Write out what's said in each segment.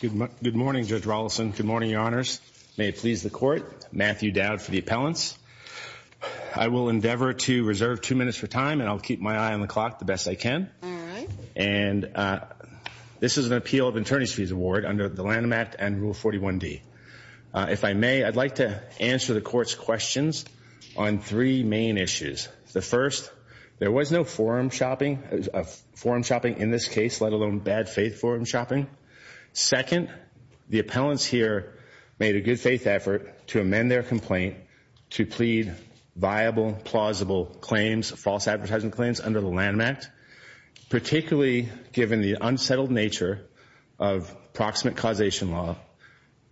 Good morning, Judge Rollison. Good morning, Your Honors. May it please the Court, Matthew Dowd for the appellants. I will endeavor to reserve two minutes for time, and I'll keep my eye on the clock the best I can. And this is an appeal of attorney's fees award under the Lanham Act and Rule 41D. If I may, I'd like to answer the Court's questions on three main issues. The first, there was no forum shopping in this case, let alone bad faith forum shopping. Second, the appellants here made a good faith effort to amend their complaint to plead viable, plausible claims, false advertising claims under the Lanham Act, particularly given the unsettled nature of proximate causation law,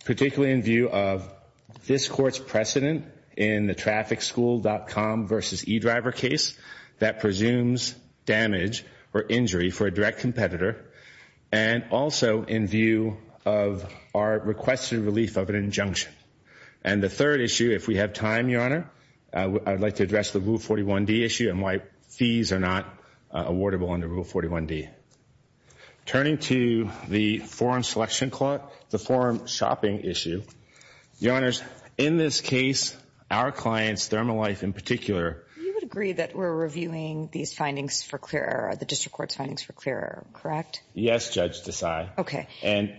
particularly in view of this Court's precedent in the TrafficSchool.com versus eDriver case that presumes damage or injury for a direct competitor, and also in view of our requested relief of an injunction. And the third issue, if we have time, Your Honor, I'd like to address the Rule 41D issue and why fees are not awardable under Rule 41D. Turning to the forum selection clock, the forum shopping issue, Your Honors, in this case, our clients, ThermoLife in particular You would agree that we're reviewing these findings for clear error, the District Court's findings for clear error, correct? Yes, Judge Desai. Okay. And,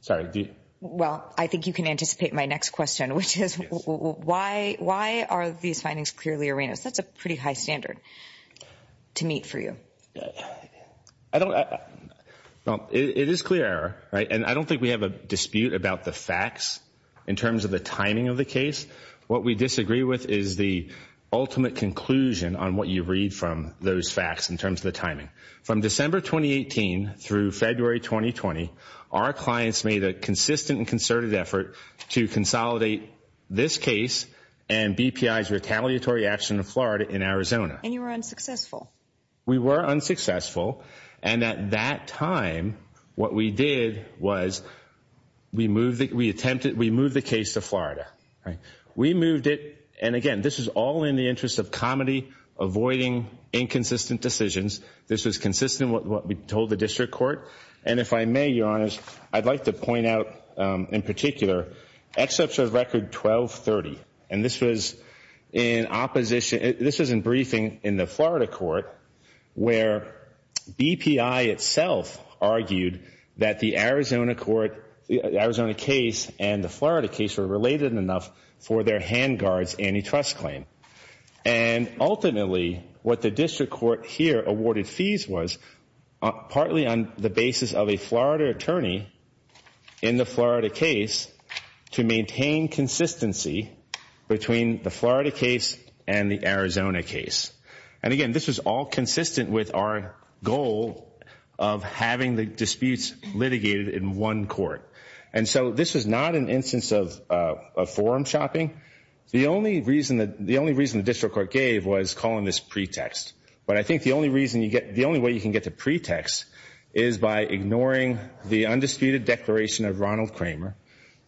sorry, do you? Well, I think you can anticipate my next question, which is why are these findings clearly erroneous? That's a pretty high standard to meet for you. It is clear error, right? And I don't think we have a dispute about the facts in terms of the timing of the case. What we disagree with is the ultimate conclusion on what you read from those facts in terms of the timing. From December 2018 through February 2020, our clients made a consistent and concerted effort to consolidate this case and BPI's retaliatory action in Florida, in Arizona. And you were unsuccessful. We were unsuccessful. And at that time, what we did was we moved it, we attempted, we moved the case to Florida. We moved it, and again, this is all in the interest of comedy, avoiding inconsistent decisions. This was consistent with what we in particular, exception of record 1230. And this was in opposition, this was in briefing in the Florida court, where BPI itself argued that the Arizona court, the Arizona case and the Florida case were related enough for their hand guard's antitrust claim. And ultimately, what the District Court here awarded fees was, partly on the basis of a Florida attorney in the Florida case, to maintain consistency between the Florida case and the Arizona case. And again, this was all consistent with our goal of having the disputes litigated in one court. And so this was not an instance of forum shopping. The only reason the District Court gave was calling this pretext. But I think the only way you can get to pretext is by ignoring the undisputed declaration of Ronald Kramer,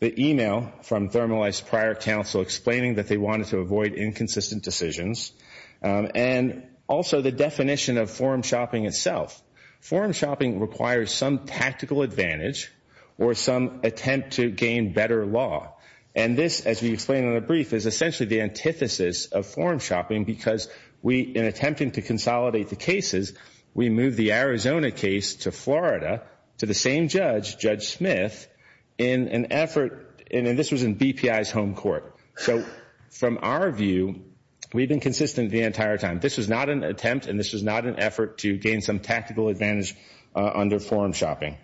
the email from Thermalize Prior Counsel explaining that they wanted to avoid inconsistent decisions, and also the definition of forum shopping itself. Forum shopping requires some tactical advantage or some attempt to gain better law. And this, as we explained in the brief, is essentially the antithesis of forum shopping, because we, in attempting to consolidate the cases, we moved the Arizona case to Florida to the same judge, Judge Smith, in an effort, and this was in BPI's home court. So from our view, we've been consistent the entire time. This was not an attempt and this was not an effort to gain some tactical advantage under forum shopping.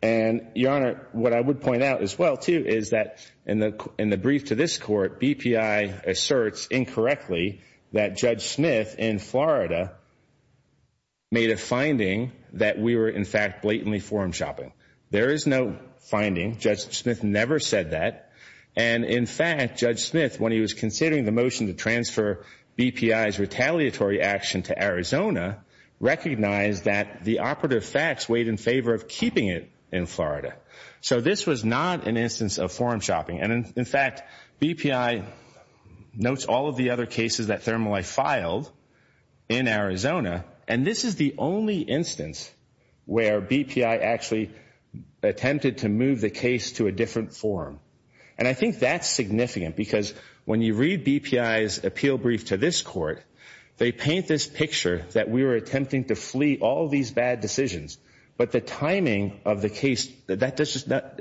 And Your Honor, what I would point out as well, too, is that in the brief to this Court, BPI asserts incorrectly that Judge Smith in Florida made a finding that we were, in fact, blatantly forum shopping. There is no finding. Judge Smith never said that. And in fact, Judge Smith, when he was considering the motion to transfer BPI's retaliatory action to Arizona, recognized that the operative facts weighed in favor of keeping it in Florida. So this was not an instance of forum shopping. And in fact, BPI notes all of the other cases that Thermalife filed in Arizona, and this is the only instance where BPI actually attempted to move the case to a different forum. And I think that's significant, because when you read BPI's appeal brief to this Court, they paint this picture that we were attempting to flee all these bad decisions. But the timing of the case, that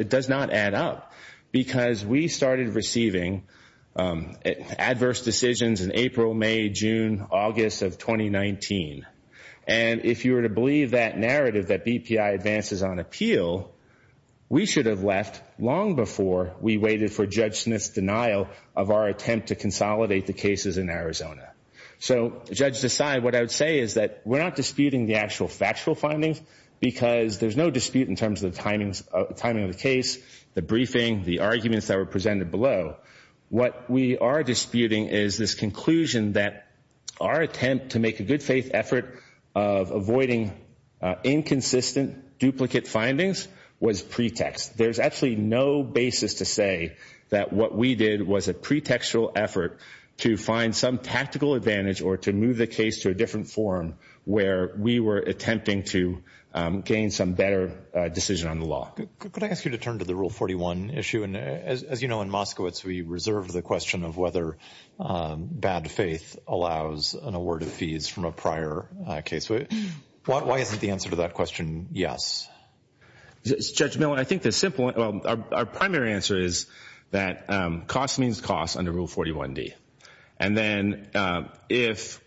does not add up, because we started receiving adverse decisions in April, May, June, August of 2019. And if you were to believe that narrative that BPI advances on appeal, we should have left long before we waited for Judge Smith's denial of our attempt to consolidate the cases in Arizona. So Judge Desai, what I would say is that we're not disputing the actual factual findings, because there's no dispute in terms of the timing of the case, the briefing, the arguments that were presented below. What we are disputing is this conclusion that our attempt to make a good faith effort of avoiding inconsistent duplicate findings was pretext. There's actually no basis to say that what we did was a pretextual effort to find some tactical advantage or to move the case to a different forum where we were attempting to gain some better decision on the law. Could I ask you to turn to the Rule 41 issue? And as you know, in Moskowitz, we reserve the question of whether bad faith allows an award of fees from a prior case. Why isn't the answer to that question yes? Judge Miller, I think the simple, our primary answer is that cost means cost under Rule 41D. And then if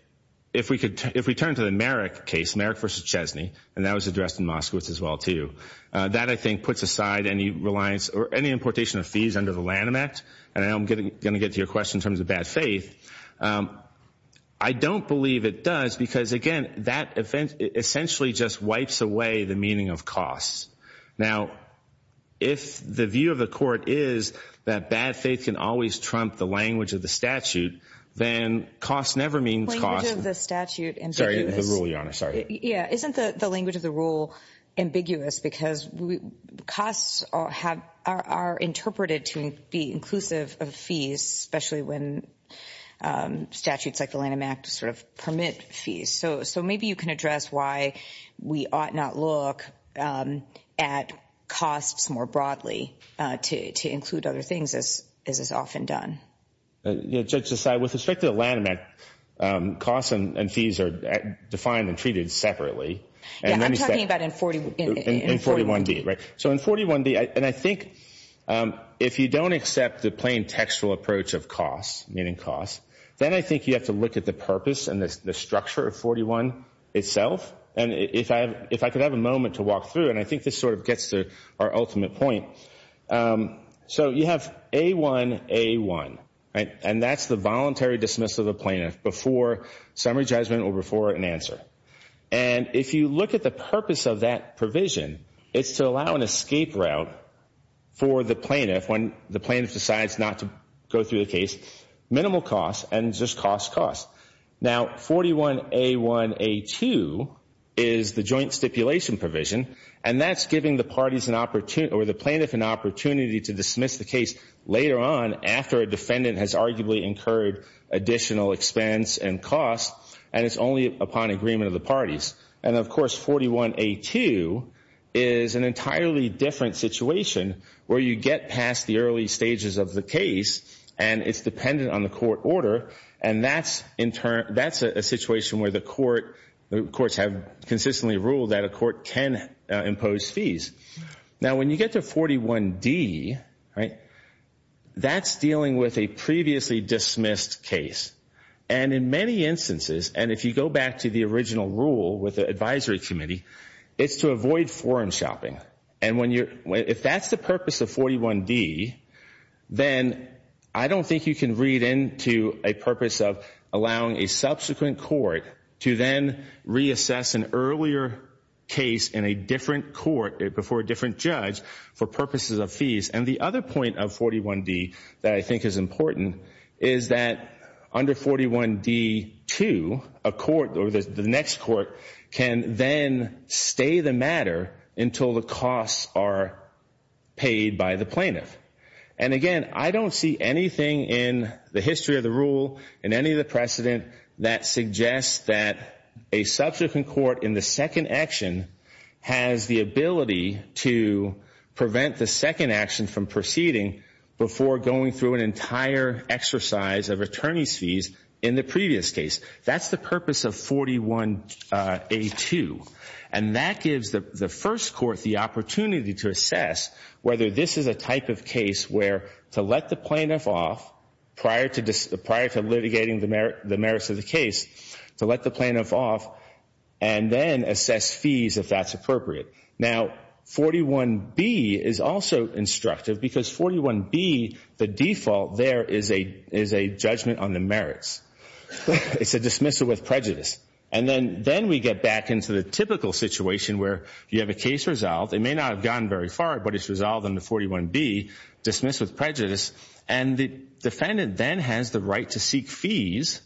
we turn to the Merrick case, Merrick v. Chesney, and that was addressed in Moskowitz as well too, that I think puts aside any importation of fees under the Lanham Act. And I'm going to get to your question in terms of bad faith. I don't believe it does, because again, that essentially just wipes away the meaning of cost. Now, if the view of the court is that bad faith can always trump the language of the statute, then cost never means cost. The language of the statute is ambiguous. Sorry, the Rule, Your Honor. Sorry. Yeah. Isn't the language of the Rule ambiguous? Because costs are interpreted to be inclusive of fees, especially when statutes like the Lanham Act sort of permit fees. So maybe you can address why we ought not look at costs more broadly to include other things as is often done. Yeah, Judge Desai, with respect to the Lanham Act, costs and fees are defined and treated separately. Yeah, I'm talking about in 41D. So in 41D, and I think if you don't accept the plain textual approach of costs, meaning cost, then I think you have to look at the purpose and the structure of 41 itself. And if I could have a moment to walk through, and I think this sort of gets to our ultimate point. So you have A1, A1, and that's the voluntary dismissal of a plaintiff before summary judgment or before an answer. And if you look at the purpose of that provision, it's to allow an escape route for the plaintiff when the plaintiff decides not to go through the case, minimal cost and just cost, cost. Now, 41A1A2 is the joint stipulation provision, and that's giving the plaintiff an opportunity to dismiss the case later on after a defendant has arguably incurred additional expense and cost, and it's only upon agreement of the defense. And of course, 41A2 is an entirely different situation where you get past the early stages of the case, and it's dependent on the court order, and that's a situation where the courts have consistently ruled that a court can impose fees. Now when you get to 41D, that's dealing with a previously dismissed case. And in many instances, and if you go back to the original rule with the advisory committee, it's to avoid foreign shopping. And if that's the purpose of 41D, then I don't think you can read into a purpose of allowing a subsequent court to then reassess an earlier case in a different court before a different judge for purposes of fees. And the other point of 41D that I think is important is that under 41D2, a court or the next court can then stay the matter until the costs are paid by the plaintiff. And again, I don't see anything in the history of the rule and any of the precedent that suggests that a subsequent court in the second action has the ability to prevent the second action from proceeding before going through an entire exercise of attorney's fees in the previous case. That's the purpose of 41A2. And that gives the first court the opportunity to assess whether this is a type of case where to let the plaintiff off prior to litigating the merits of the case, to let the plaintiff off, and then assess fees if that's appropriate. Now, 41B is also instructive because 41B, the default there is a judgment on the merits. It's a dismissal with prejudice. And then we get back into the typical situation where you have a case resolved. It may not have gone very far, but it's resolved under 41B, dismissed with prejudice. And the defendant then has the right to seek fees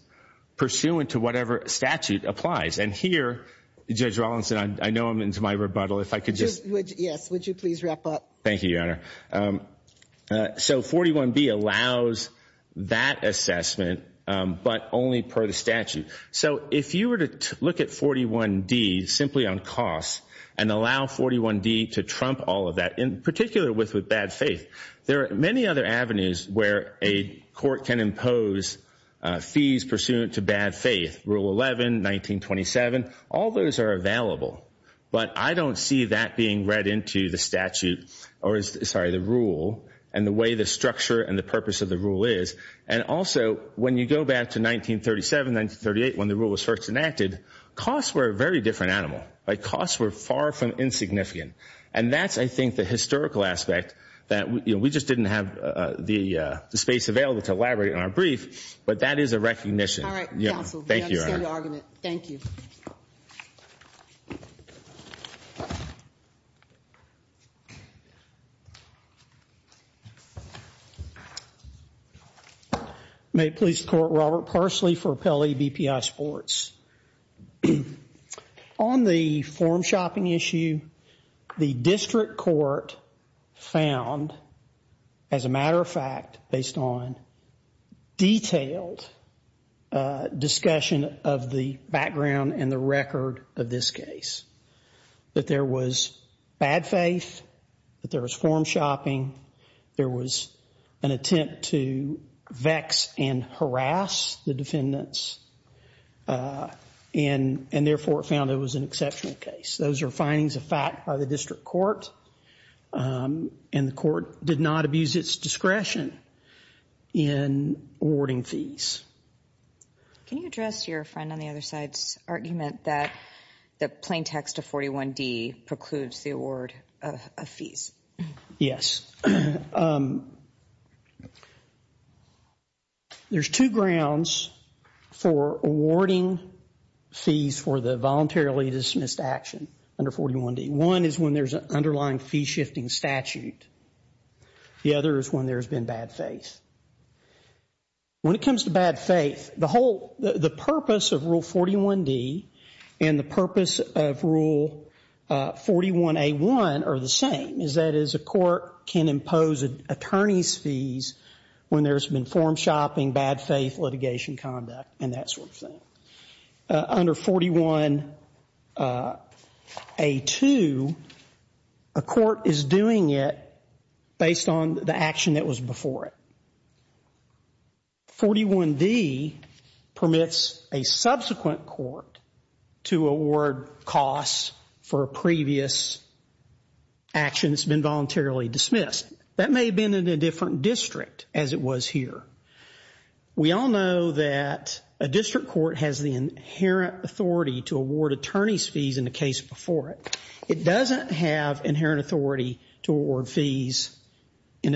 pursuant to whatever statute applies. And here, Judge Rawlinson, I know I'm into my rebuttal. If I could just... Yes, would you please wrap up? Thank you, Your Honor. So 41B allows that assessment, but only per the statute. So if you were to look at 41D simply on costs and allow 41D to trump all of that, in particular with bad faith, there are many other avenues where a court can impose fees pursuant to bad faith. Rule 11, 1927, all those are available. But I don't see that being read into the rule and the way the structure and the purpose of the rule is. And also, when you go back to 1937, 1938, when the rule was first enacted, costs were a very different animal. Costs were far from insignificant. And that's, I think, the historical aspect. We just didn't have the space available to elaborate on our brief, but that is a recognition. All right, counsel, we understand the argument. Thank you. May it please the Court, Robert Parsley for Appellee BPI Sports. On the form shopping issue, the district court found, as a matter of fact, based on detailed discussion of the background and the record of this case, that there was bad faith, that there was form shopping, there was an attempt to vex and harass the defendants, and therefore found it was an exceptional case. Those are findings of fact by the district court, and the court did not abuse its discretion in awarding fees. Can you address your friend on the other side's argument that the plain text of 41D precludes the award of fees? Yes. There's two grounds for awarding fees for the voluntarily dismissed action under 41D. One is when there's an underlying fee-shifting statute. The other is when there's been bad faith. When it comes to bad faith, the purpose of Rule 41D and the purpose of Rule 41A1 are the same. That is, a court can impose attorney's fees when there's been form shopping, bad faith, litigation conduct, and that sort of thing. Under 41A2, a court is doing it based on the action that was before it. 41D permits a subsequent court to award costs for a previous action that's been voluntarily dismissed. That may have been in a different district as it was here. We all know that a district court has the inherent authority to award fees in a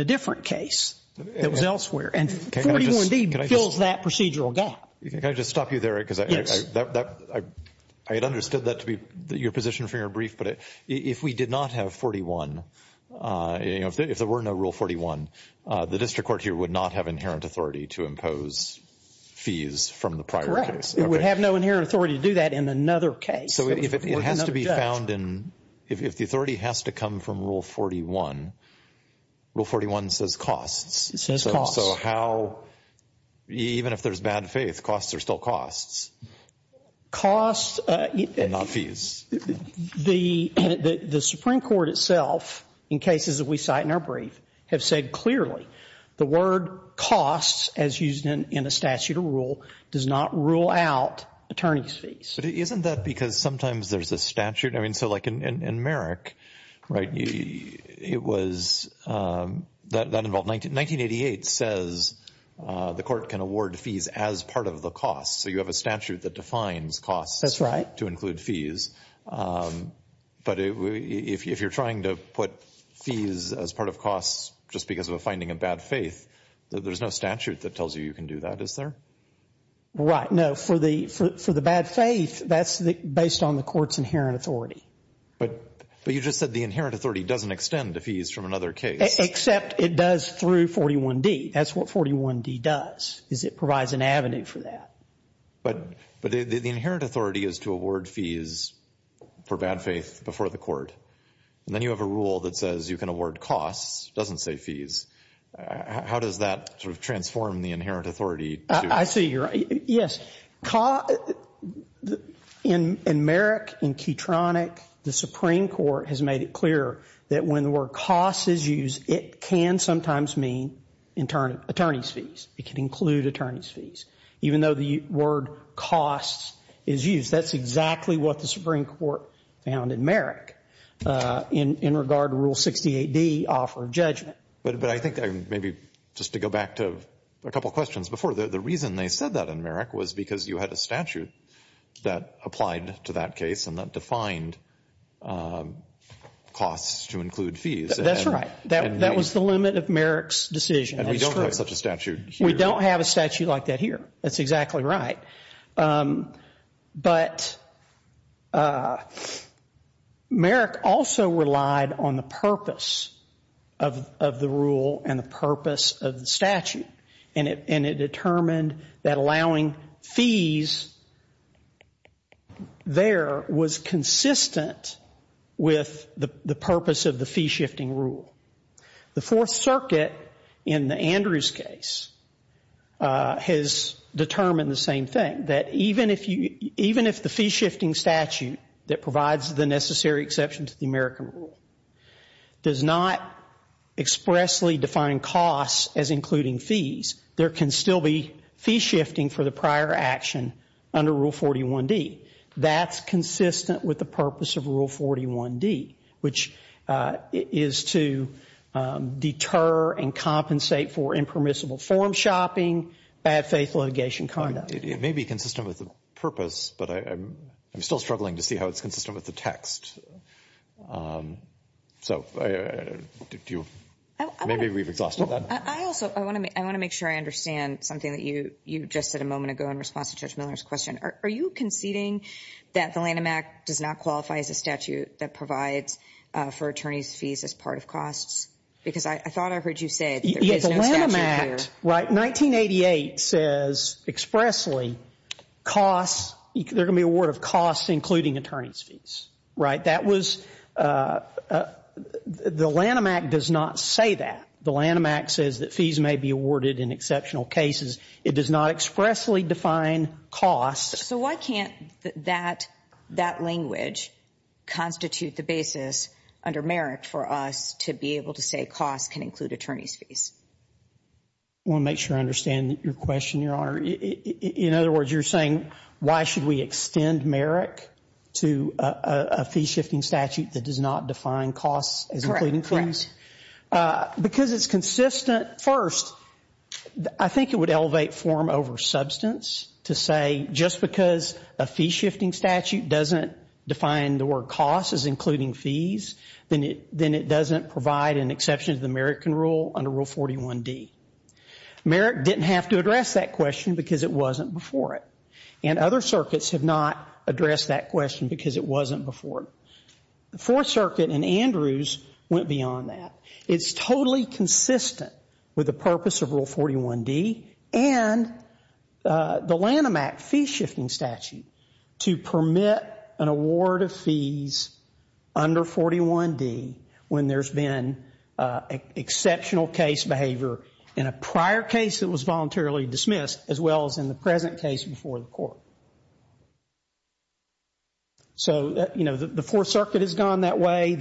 different case that was elsewhere, and 41D fills that procedural gap. Can I just stop you there? I had understood that to be your position for your brief, but if we did not have 41, if there were no Rule 41, the district court here would not have inherent authority to impose fees from the prior case. Correct. It would have no inherent authority to do that in another case. So if it has to be found in — if the authority has to come from Rule 41, Rule 41 says costs. It says costs. So how — even if there's bad faith, costs are still costs, and not fees. Costs — the Supreme Court itself, in cases that we cite in our brief, have said clearly the word costs, as used in a statute of rule, does not rule out attorney's fees. But isn't that because sometimes there's a statute? I mean, so like in Merrick, right, it was — that involved — 1988 says the court can award fees as part of the costs. So you have a statute that defines costs to include fees. But if you're trying to put fees as part of costs just because of a finding of bad faith, there's no statute that tells you you can do that, is there? Right. No. For the bad faith, that's based on the court's inherent authority. But you just said the inherent authority doesn't extend to fees from another case. Except it does through 41D. That's what 41D does, is it provides an avenue for that. But the inherent authority is to award fees for bad faith before the court. And then you have a rule that says you can award costs, doesn't say fees. How does that sort of transform the inherent authority? I see you're — yes. In Merrick, in Keatronic, the Supreme Court has made it clear that when the word costs is used, it can sometimes mean attorney's fees. It can include attorney's fees. Even though the word costs is used, that's exactly what the Supreme Court found in Merrick in regard to Rule 68D, offer of judgment. But I think maybe just to go back to a couple questions before. The reason they said that in Merrick was because you had a statute that applied to that case and that defined costs to include fees. That's right. That was the limit of Merrick's decision. And we don't have such a statute here. We don't have a statute like that here. That's exactly right. But Merrick also relied on the purpose of the rule and the purpose of the statute. And it determined that allowing fees there was consistent with the purpose of the fee-shifting rule. The Fourth Circuit, in the Andrews case, has determined the same thing. That even if you — even if the fee-shifting statute that provides the necessary exception to the American rule does not expressly define costs as including fees, there can still be fee-shifting for the prior action under Rule 41D. That's consistent with the purpose of Rule 41D, which is to deter and compensate for impermissible form shopping, bad faith litigation conduct. It may be consistent with the purpose, but I'm still struggling to see how it's consistent with the text. So do you — maybe we've exhausted that. I also — I want to make sure I understand something that you just said a moment ago in response to Judge Miller's question. Are you conceding that the Lanham Act does not qualify as a statute that provides for attorneys' fees as part of costs? Because I thought I heard you say that there is no statute here. The Lanham Act — right, 1988 says expressly costs — there can be a word of costs including attorneys' fees. Right? That was — the Lanham Act does not say that. The Lanham Act says that fees may be awarded in exceptional cases. It does not expressly define costs. So why can't that language constitute the basis under Merrick for us to be able to say costs can include attorneys' fees? I want to make sure I understand your question, Your Honor. In other words, you're saying why should we extend Merrick to a fee-shifting statute that does not define costs as including fees? Correct. Correct. Because it's consistent, first, I think it would elevate form over substance to say just because a fee-shifting statute doesn't define the word costs as including fees, then it doesn't provide an exception to the Merrick rule under Rule 41D. Merrick didn't have to address that question because it wasn't before it. And other circuits have not addressed that question because it wasn't before it. The Fourth Circuit and Andrews went beyond that. It's totally consistent with the purpose of Rule 41D and the Lanham Act fee-shifting statute to permit an award of fees under 41D when there's been exceptional case behavior in a prior case that was voluntarily dismissed as well as in the present case before the court. So, you know, the Fourth Circuit has gone that way.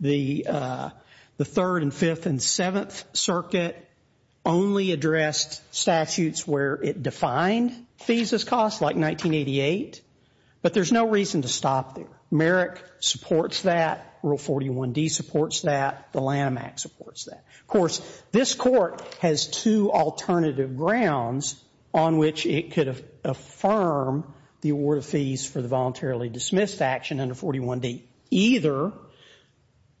The Third and Fifth and Seventh Circuit only addressed statutes where it defined fees as costs like 1988. But there's no reason to stop there. Merrick supports that. Rule 41D supports that. The Lanham Act supports that. Of course, this court has two alternative grounds on which it could affirm the award of fees for the voluntarily dismissed action under 41D. Either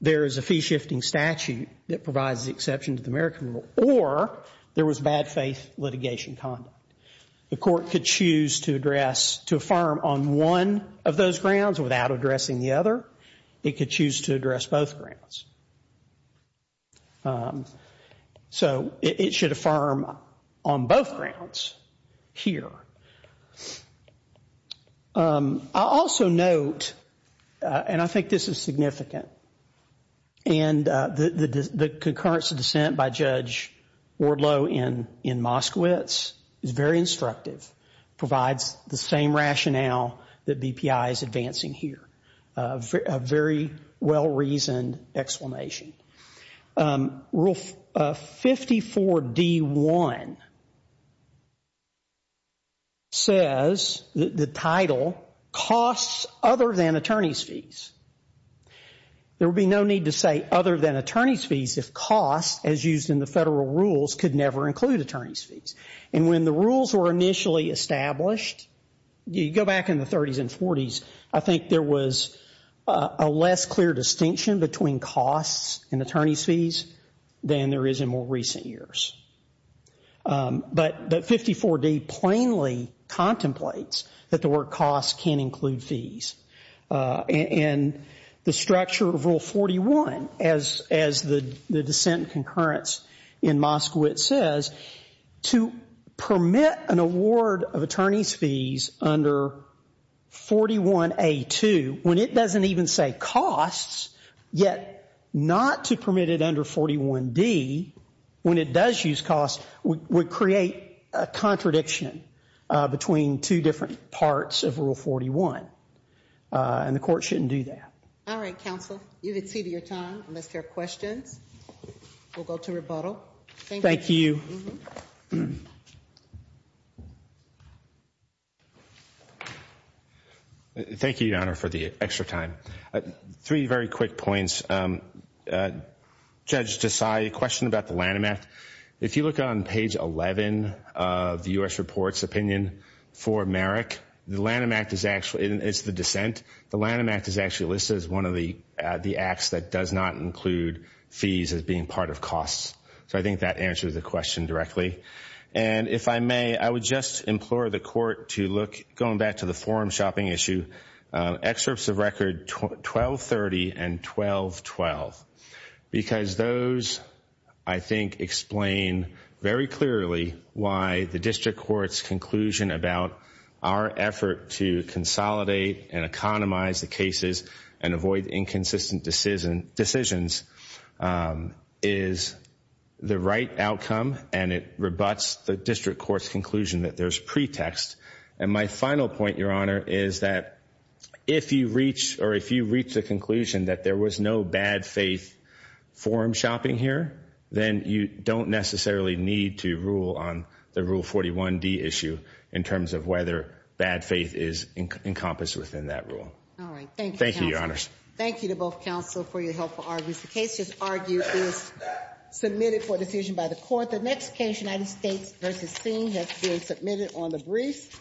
there is a fee-shifting statute that provides the exception to the Merrick rule or there was bad faith litigation conduct. The court could choose to address, to affirm on one of those grounds without addressing the other. It could choose to address both grounds. So it should affirm on both grounds here. I'll also note, and I think this is significant, and the concurrence of dissent by Judge Orlow in Moskowitz is very instructive. Provides the same rationale that BPI is advancing here. A very well-reasoned explanation. Rule 54D-1 says, the title, costs other than attorney's fees. There would be no need to say other than attorney's fees if costs, as used in the federal rules, could never include attorney's fees. And when the rules were initially established, you go back in the 30s and 40s, I think there was a less clear distinction between costs and attorney's fees than there is in more recent years. But 54D plainly contemplates that the word costs can include fees. And the structure of Rule 41, as the dissent and concurrence in Moskowitz says, to permit an award of attorney's fees under 41A-2, when it doesn't even say costs, yet not to permit it under 41D, when it does use costs, would create a contradiction between two different parts of Rule 41. And the court shouldn't do that. All right, counsel. You've exceeded your time. Unless there are questions, we'll go to rebuttal. Thank you. Thank you, Your Honor, for the extra time. Three very quick points. Judge Desai, a question about the Lanham Act. If you look on page 11 of the U.S. report's opinion for Merrick, the Lanham Act is actually, it's the dissent, the Lanham Act is actually listed as one of the acts that does not include fees as being part of costs. So I think that answers the question directly. And if I may, I would just implore the court to look, going back to the forum shopping issue, excerpts of record 1230 and 1212. Because those, I think, explain very clearly why the district court's conclusion about our effort to consolidate and economize the cases and avoid inconsistent decisions is the right outcome and it rebuts the district court's conclusion that there's pretext. And my final point, Your Honor, is that if you reach, or if you reach the conclusion that there was no bad faith forum shopping here, then you don't necessarily need to rule on the Rule 41D issue in terms of whether bad faith is encompassed within that rule. All right. Thank you, counsel. The case, as argued, is submitted for decision by the court. The next case, United States v. Singh, has been submitted on the brief.